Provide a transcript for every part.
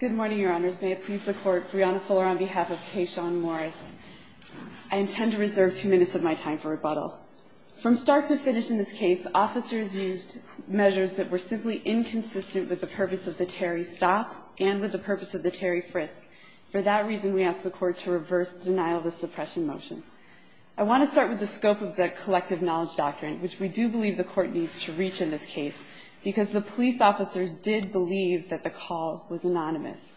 Good morning, Your Honors. May it please the Court, Brianna Fuller on behalf of Keshawn Morris. I intend to reserve two minutes of my time for rebuttal. From start to finish in this case, officers used measures that were simply inconsistent with the purpose of the Terry stop and with the purpose of the Terry frisk. For that reason, we ask the Court to reverse the denial of the suppression motion. I want to start with the scope of the collective knowledge doctrine, which we do believe the Court needs to reach in this case, because the police officers did believe that the call was anonymous.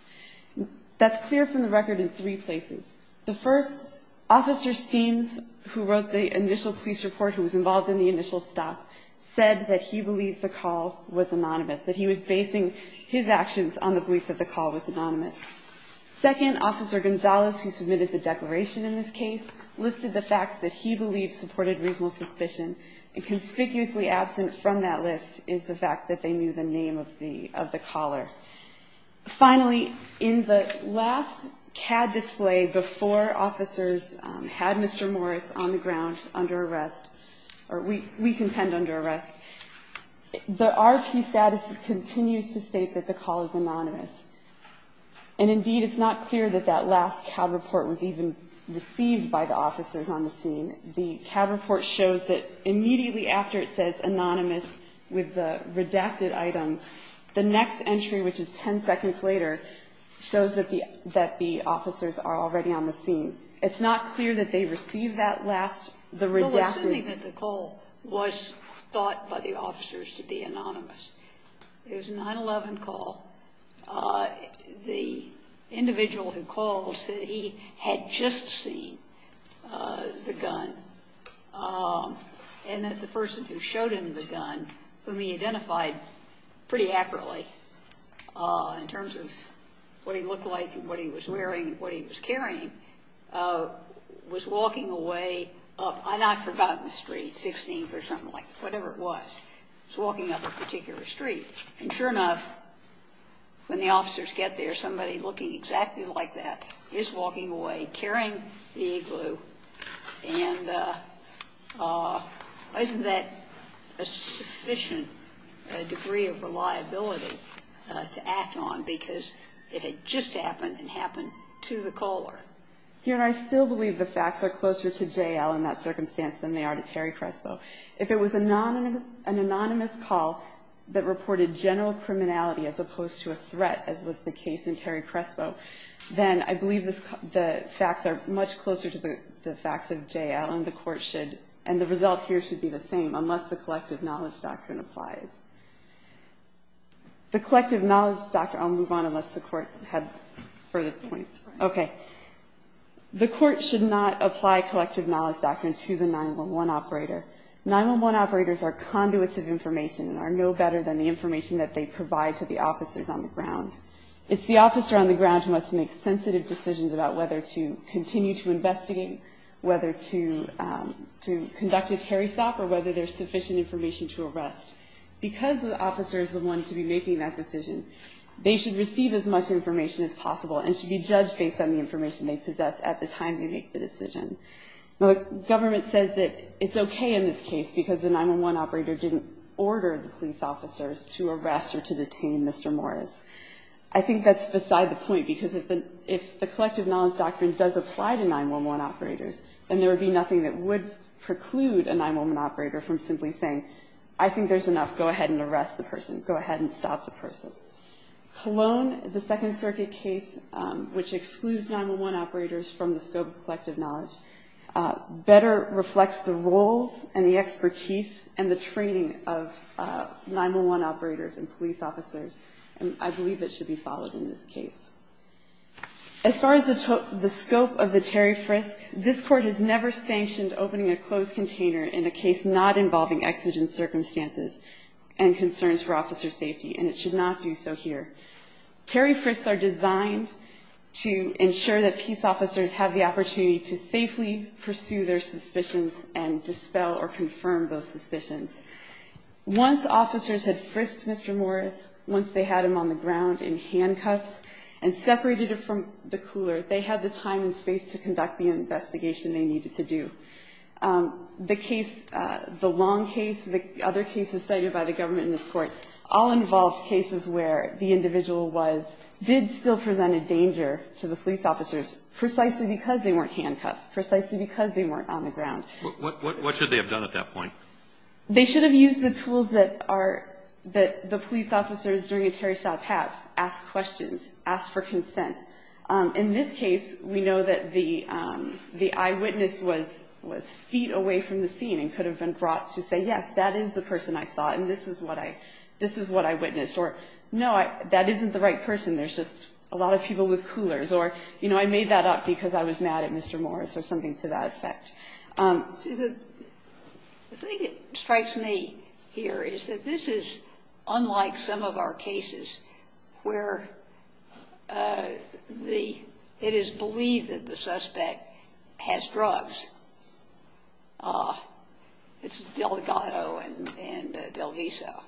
That's clear from the record in three places. The first, Officer Seames, who wrote the initial police report, who was involved in the initial stop, said that he believed the call was anonymous, that he was basing his actions on the belief that the call was anonymous. Second, Officer Gonzalez, who submitted the declaration in this case, listed the facts that he believed supported reasonable suspicion, and conspicuously absent from that list is the fact that they knew the name of the caller. Finally, in the last CAD display before officers had Mr. Morris on the ground under arrest, or we contend under arrest, the RP status continues to state that the call is anonymous. And indeed, it's not clear that that last CAD report was even received by the officers on the scene. And the CAD report shows that immediately after it says anonymous with the redacted items, the next entry, which is ten seconds later, shows that the officers are already on the scene. It's not clear that they received that last, the redacted. Sotomayor, assuming that the call was thought by the officers to be anonymous. It was a 9-11 call. The individual who called said that he had just seen the gun, and that the person who showed him the gun, whom he identified pretty accurately in terms of what he looked like and what he was wearing and what he was carrying, was walking away up, I've now forgotten the street, 16th or something like, whatever it was. He was walking up a particular street. And sure enough, when the officers get there, somebody looking exactly like that is walking away, carrying the igloo. And isn't that a sufficient degree of reliability to act on? Because it had just happened and happened to the caller. Your Honor, I still believe the facts are closer to jail in that circumstance than they are to Terry Crespo. If it was an anonymous call that reported general criminality as opposed to a threat, as was the case in Terry Crespo, then I believe the facts are much closer to the facts of jail, and the court should, and the result here should be the same, unless the collective knowledge doctrine applies. The collective knowledge doctrine, I'll move on unless the court had further points. Okay. The court should not apply collective knowledge doctrine to the 911 operator. 911 operators are conduits of information and are no better than the information that they provide to the officers on the ground. It's the officer on the ground who must make sensitive decisions about whether to continue to investigate, whether to conduct a Terry stop, or whether there's sufficient information to arrest. Because the officer is the one to be making that decision, they should receive as much information as possible and should be judged based on the information they possess at the time they make the decision. The government says that it's okay in this case because the 911 operator didn't order the police officers to arrest or to detain Mr. Morris. I think that's beside the point because if the collective knowledge doctrine does apply to 911 operators, then there would be nothing that would preclude a 911 operator from simply saying, I think there's enough. Go ahead and arrest the person. Go ahead and stop the person. Cologne, the Second Circuit case, which excludes 911 operators from the scope of collective knowledge, better reflects the roles and the expertise and the training of 911 operators and police officers. And I believe it should be followed in this case. As far as the scope of the Terry frisk, this Court has never sanctioned opening a closed container in a case not involving exigent circumstances and concerns for officer safety, and it should not do so here. Terry frisks are designed to ensure that peace officers have the opportunity to safely pursue their suspicions and dispel or confirm those suspicions. Once officers had frisked Mr. Morris, once they had him on the ground in handcuffs and separated him from the cooler, they had the time and space to conduct the investigation they needed to do. The case, the long case, the other cases cited by the government in this Court, all involved cases where the individual was, did still present a danger to the police officers precisely because they weren't handcuffed, precisely because they weren't on the ground. What should they have done at that point? They should have used the tools that are, that the police officers during a Terry stop have, asked questions, asked for consent. In this case, we know that the eyewitness was feet away from the scene and could have been brought to say, yes, that is the person I saw, and this is what I, this is what I witnessed. Or, no, that isn't the right person. There's just a lot of people with coolers. Or, you know, I made that up because I was mad at Mr. Morris or something to that The thing that strikes me here is that this is unlike some of our cases where the, it is believed that the suspect has drugs. It's Delgado and Delviso.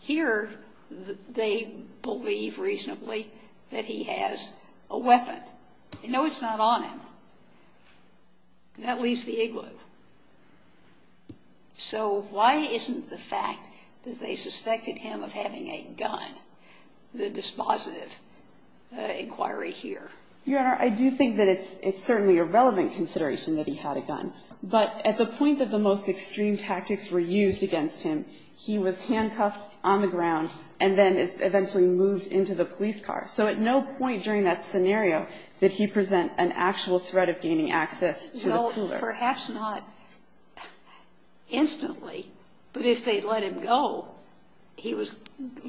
Here, they believe reasonably that he has a weapon. But no, it's not on him. That leaves the igloo. So why isn't the fact that they suspected him of having a gun the dispositive inquiry here? Your Honor, I do think that it's certainly a relevant consideration that he had a gun, but at the point that the most extreme tactics were used against him, he was not, did he present an actual threat of gaining access to the cooler? Perhaps not instantly, but if they let him go, he was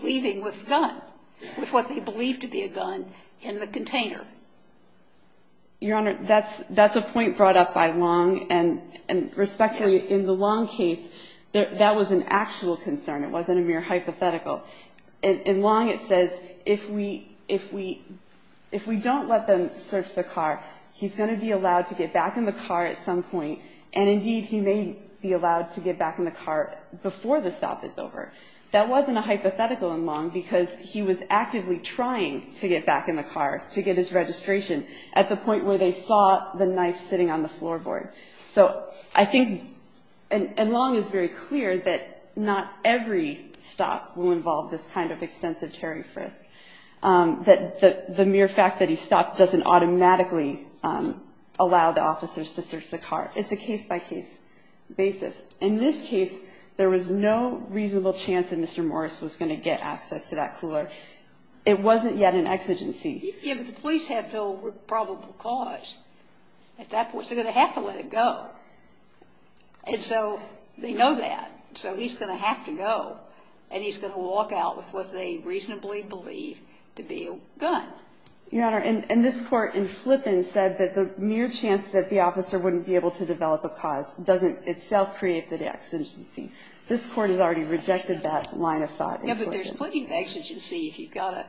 leaving with a gun, with what they believe to be a gun in the container. Your Honor, that's a point brought up by Long, and respectfully, in the Long case, that was an actual concern. It wasn't a mere hypothetical. In Long, it says if we don't let them search the car, he's going to be allowed to get back in the car at some point, and indeed, he may be allowed to get back in the car before the stop is over. That wasn't a hypothetical in Long because he was actively trying to get back in the car to get his registration at the point where they saw the knife sitting on the floorboard. So I think, and Long is very clear that not every stop will involve this kind of extensive terry frisk, that the mere fact that he stopped doesn't automatically allow the officers to search the car. It's a case-by-case basis. In this case, there was no reasonable chance that Mr. Morris was going to get access to that car. And so they know that. So he's going to have to go, and he's going to walk out with what they reasonably believe to be a gun. Your Honor, and this Court in Flippen said that the mere chance that the officer wouldn't be able to get back in the car at some point, and indeed, he may be allowed to get back in the car before the stop is over.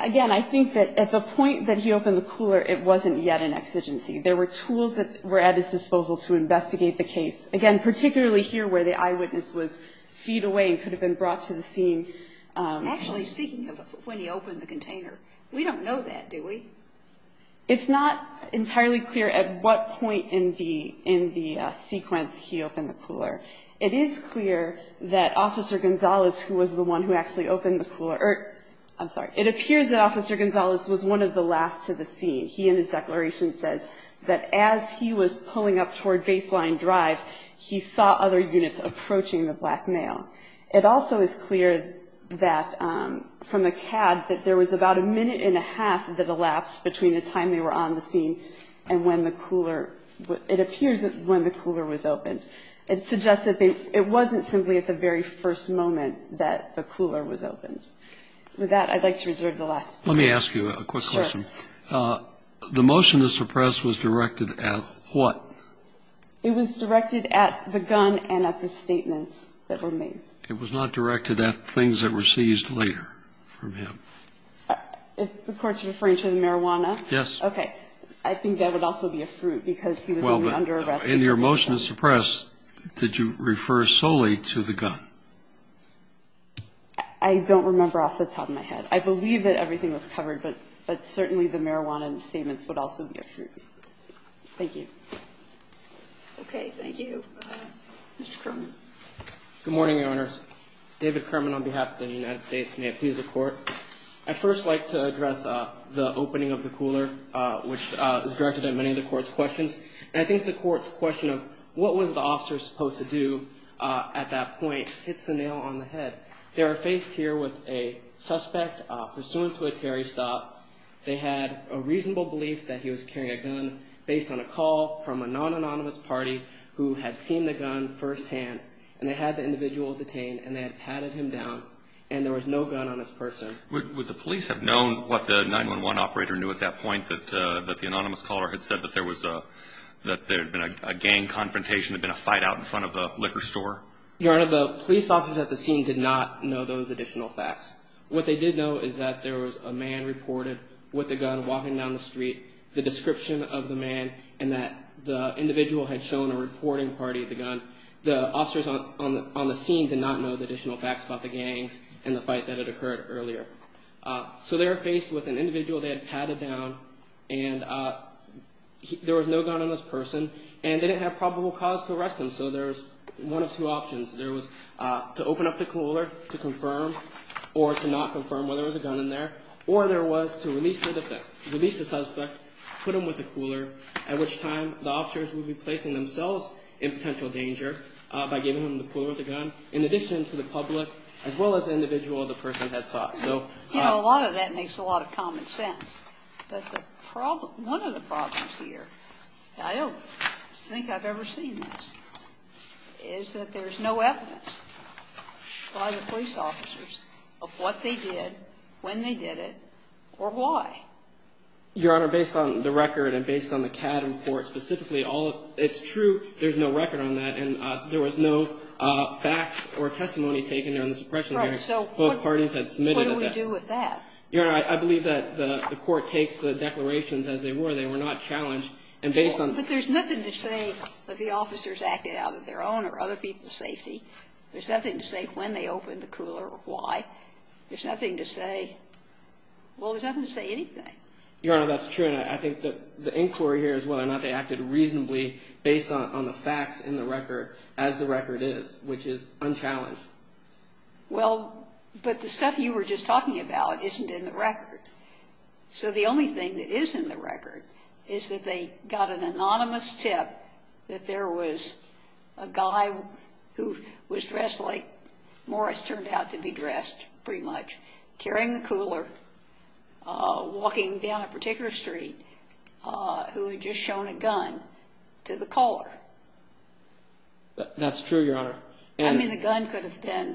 Again, I think that at the point that he opened the cooler, it wasn't yet an exigency. There were tools that were at his disposal to investigate the case, again, particularly here where the eyewitness was feet away and could have been brought to the scene. Actually, speaking of when he opened the container, we don't know that, do we? It's not entirely clear at what point in the sequence he opened the cooler. It is clear that Officer Gonzalez, who was the one who actually opened the cooler or, I'm sorry, it appears that Officer Gonzalez was one of the last to the scene. He, in his declaration, says that as he was pulling up toward Baseline Drive, he saw other units approaching the black male. It also is clear that from the CAD that there was about a minute and a half that elapsed between the time they were on the scene and when the cooler, it appears that when the cooler was opened. It suggests that they, it wasn't simply at the very first moment that the cooler was opened. With that, I'd like to reserve the last question. Let me ask you a quick question. Sure. The motion to suppress was directed at what? It was directed at the gun and at the statements that were made. It was not directed at things that were seized later from him? If the Court's referring to the marijuana? Yes. Okay. I think that would also be a fruit because he was only under arrest. In your motion to suppress, did you refer solely to the gun? I don't remember off the top of my head. I believe that everything was covered, but certainly the marijuana and the statements would also be a fruit. Thank you. Okay. Thank you. Mr. Kerman. Good morning, Your Honors. David Kerman on behalf of the United States. May it please the Court. I'd first like to address the opening of the cooler, which is directed at many of the Court's questions. And I think the Court's question of what was the officer supposed to do at that point hits the nail on the head. They are faced here with a suspect pursuant to a Terry stop. They had a reasonable belief that he was carrying a gun based on a call from a non-anonymous party who had seen the gun firsthand. And they had the individual detained, and they had patted him down, and there was no gun on his person. Would the police have known what the 911 operator knew at that point, that the anonymous caller had said that there had been a gang confrontation, had been a fight out in front of the liquor store? Your Honor, the police officers at the scene did not know those additional facts. What they did know is that there was a man reported with a gun walking down the street, the description of the man, and that the individual had shown a reporting party the gun. The officers on the scene did not know the additional facts about the gangs and the fight that had occurred earlier. So they were faced with an individual they had patted down, and there was no gun on this person, and they didn't have probable cause to arrest him. So there was one of two options. There was to open up the cooler to confirm or to not confirm whether there was a gun in there, or there was to release the suspect, put him with the cooler, at which time the officers would be placing themselves in potential danger by giving him the cooler or the gun, in addition to the public, as well as the individual the person had sought. You know, a lot of that makes a lot of common sense. But one of the problems here, I don't think I've ever seen this, is that there's no evidence by the police officers of what they did, when they did it, or why. Your Honor, based on the record and based on the CAD report specifically, it's true there's no record on that, and there was no facts or testimony taken on this oppression. So both parties had submitted it. What do we do with that? Your Honor, I believe that the court takes the declarations as they were. They were not challenged. But there's nothing to say that the officers acted out of their own or other people's safety. There's nothing to say when they opened the cooler or why. There's nothing to say. Well, there's nothing to say anything. Your Honor, that's true, and I think that the inquiry here is whether or not they acted reasonably based on the facts in the record as the record is, which is unchallenged. Well, but the stuff you were just talking about isn't in the record. So the only thing that is in the record is that they got an anonymous tip that there was a guy who was dressed like Morris turned out to be dressed pretty much, carrying the cooler, walking down a particular street, who had just shown a gun to the caller. That's true, Your Honor. I mean, the gun could have been,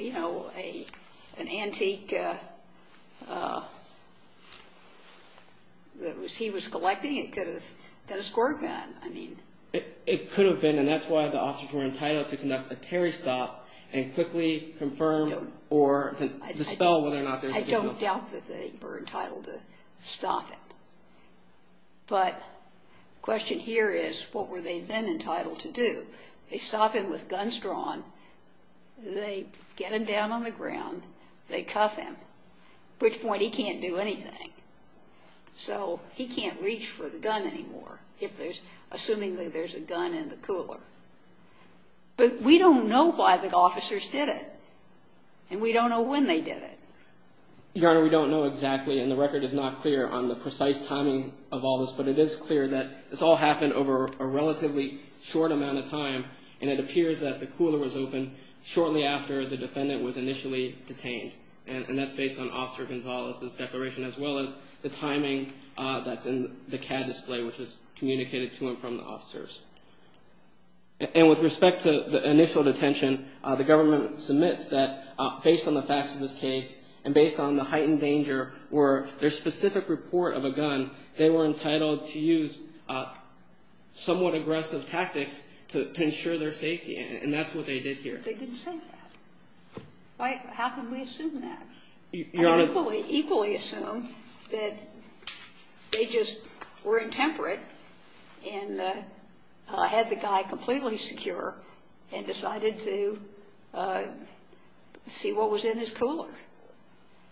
you know, an antique that he was collecting. It could have been a squirt gun. It could have been, and that's why the officers were entitled to conduct a Terry stop and quickly confirm or dispel whether or not there was a gun. I don't doubt that they were entitled to stop him. But the question here is, what were they then entitled to do? They stop him with guns drawn. They get him down on the ground. They cuff him, at which point he can't do anything. So he can't reach for the gun anymore, assuming that there's a gun in the cooler. But we don't know why the officers did it, and we don't know when they did it. Your Honor, we don't know exactly, and the record is not clear on the precise timing of all this, but it is clear that this all happened over a relatively short amount of time, and it appears that the cooler was opened shortly after the defendant was initially detained. And that's based on Officer Gonzalez's declaration, as well as the timing that's in the CAD display, which is communicated to and from the officers. And with respect to the initial detention, the government submits that, based on the facts of this case and based on the heightened danger or their specific report of a gun, they were entitled to use somewhat aggressive tactics to ensure their safety, and that's what they did here. They didn't say that. How can we assume that? Your Honor. And equally assume that they just were intemperate and had the guy completely secure and decided to see what was in his cooler.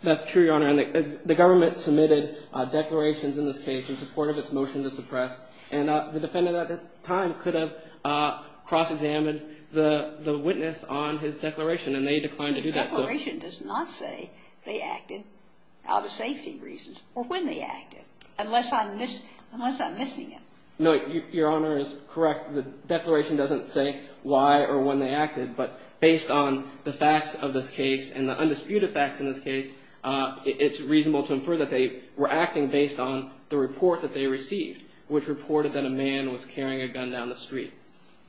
That's true, Your Honor. The government submitted declarations in this case in support of its motion to suppress, and the defendant at the time could have cross-examined the witness on his declaration, and they declined to do that. The declaration does not say they acted out of safety reasons or when they acted, unless I'm missing it. No, Your Honor is correct. The declaration doesn't say why or when they acted, but based on the facts of this case and the undisputed facts in this case, it's reasonable to infer that they were acting based on the report that they received, which reported that a man was carrying a gun down the street.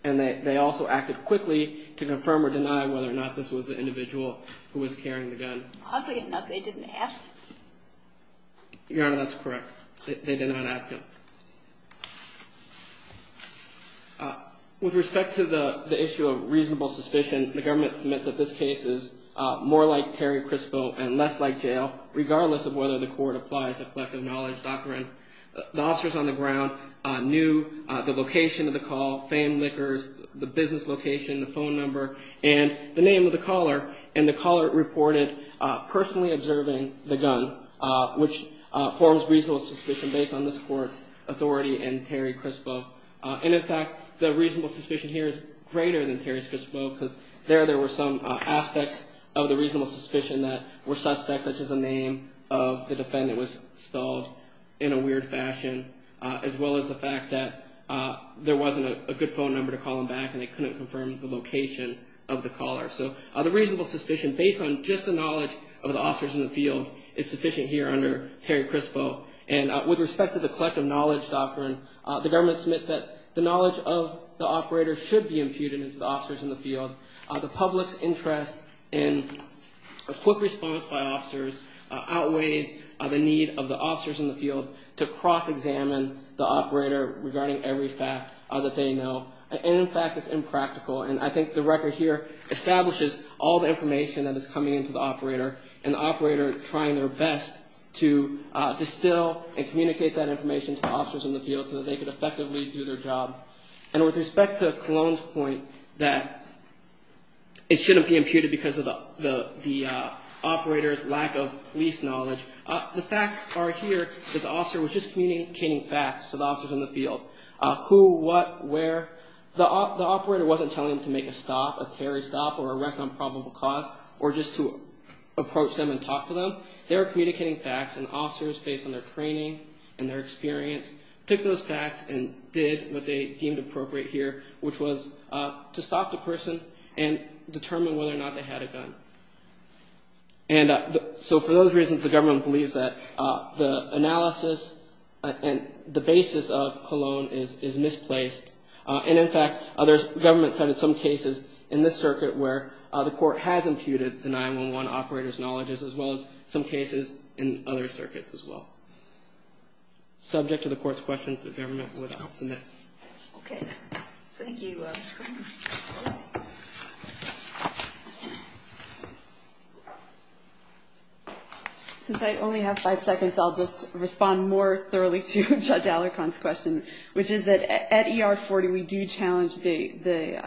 And they also acted quickly to confirm or deny whether or not this was the individual who was carrying the gun. Oddly enough, they didn't ask. Your Honor, that's correct. They did not ask him. With respect to the issue of reasonable suspicion, the government submits that this case is more like Terry Crispo and less like jail, regardless of whether the court applies the collective knowledge doctrine. The officers on the ground knew the location of the call, famed liquors, the business location, the phone number, and the name of the caller, and the caller reported personally observing the gun, which forms reasonable suspicion based on this court's authority and Terry Crispo. And, in fact, the reasonable suspicion here is greater than Terry Crispo, because there there were some aspects of the reasonable suspicion that were suspect, such as the name of the defendant was spelled in a weird fashion, as well as the fact that there wasn't a good phone number to call him back and they couldn't confirm the location of the caller. So the reasonable suspicion, based on just the knowledge of the officers in the field, is sufficient here under Terry Crispo. And with respect to the collective knowledge doctrine, the government submits that the knowledge of the operator should be imputed into the officers in the field. The public's interest in a quick response by officers outweighs the need of the officers in the field to cross-examine the operator regarding every fact that they know. And, in fact, it's impractical, and I think the record here establishes all the information that is coming into the operator, and the operator trying their best to distill and communicate that information to the officers in the field so that they could effectively do their job. And with respect to Cologne's point that it shouldn't be imputed because of the operator's lack of police knowledge, the facts are here that the officer was just communicating facts to the officers in the field. Who, what, where. The operator wasn't telling them to make a stop, a Terry stop, or arrest on probable cause, or just to approach them and talk to them. They were communicating facts, and officers, based on their training and their experience, took those facts and did what they deemed appropriate here, which was to stop the person and determine whether or not they had a gun. And so for those reasons, the government believes that the analysis and the basis of Cologne is misplaced. And, in fact, government cited some cases in this circuit where the court has imputed the 911 operator's knowledge, as well as some cases in other circuits as well. Subject to the court's questions, the government would not submit. Okay. Thank you. Since I only have five seconds, I'll just respond more thoroughly to Judge Alarcon's question, which is that at ER 40 we do challenge the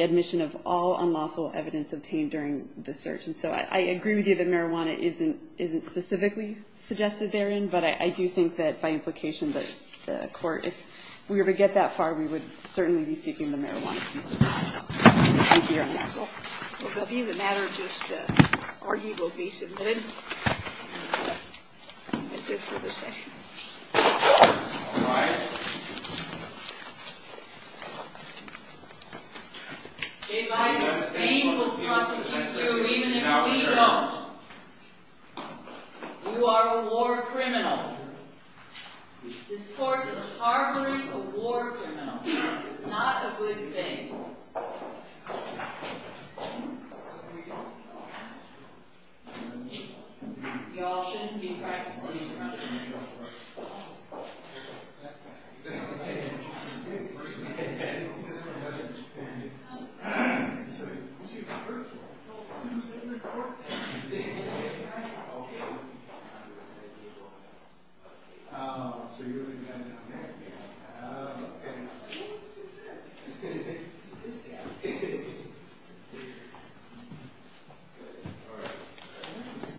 admission of all unlawful evidence obtained during the search. And so I agree with you that marijuana isn't specifically suggested therein, but I do think that by implication the court, if we were to get that far, we would certainly be seeking the marijuana case. Thank you, Your Honor. Well, if that would be the matter, just the argument will be submitted. That's it for this day. All rise. J. Viper, Spain will prosecute you even if we don't. You are a war criminal. This court is harboring a war criminal. It's not a good thing. You all shouldn't be practicing these crimes. You're a good person. You should be a good person. Isn't that what you said in the court? Okay. Oh, so you're going to get that down there? Oh, okay. So this guy. Good. All right.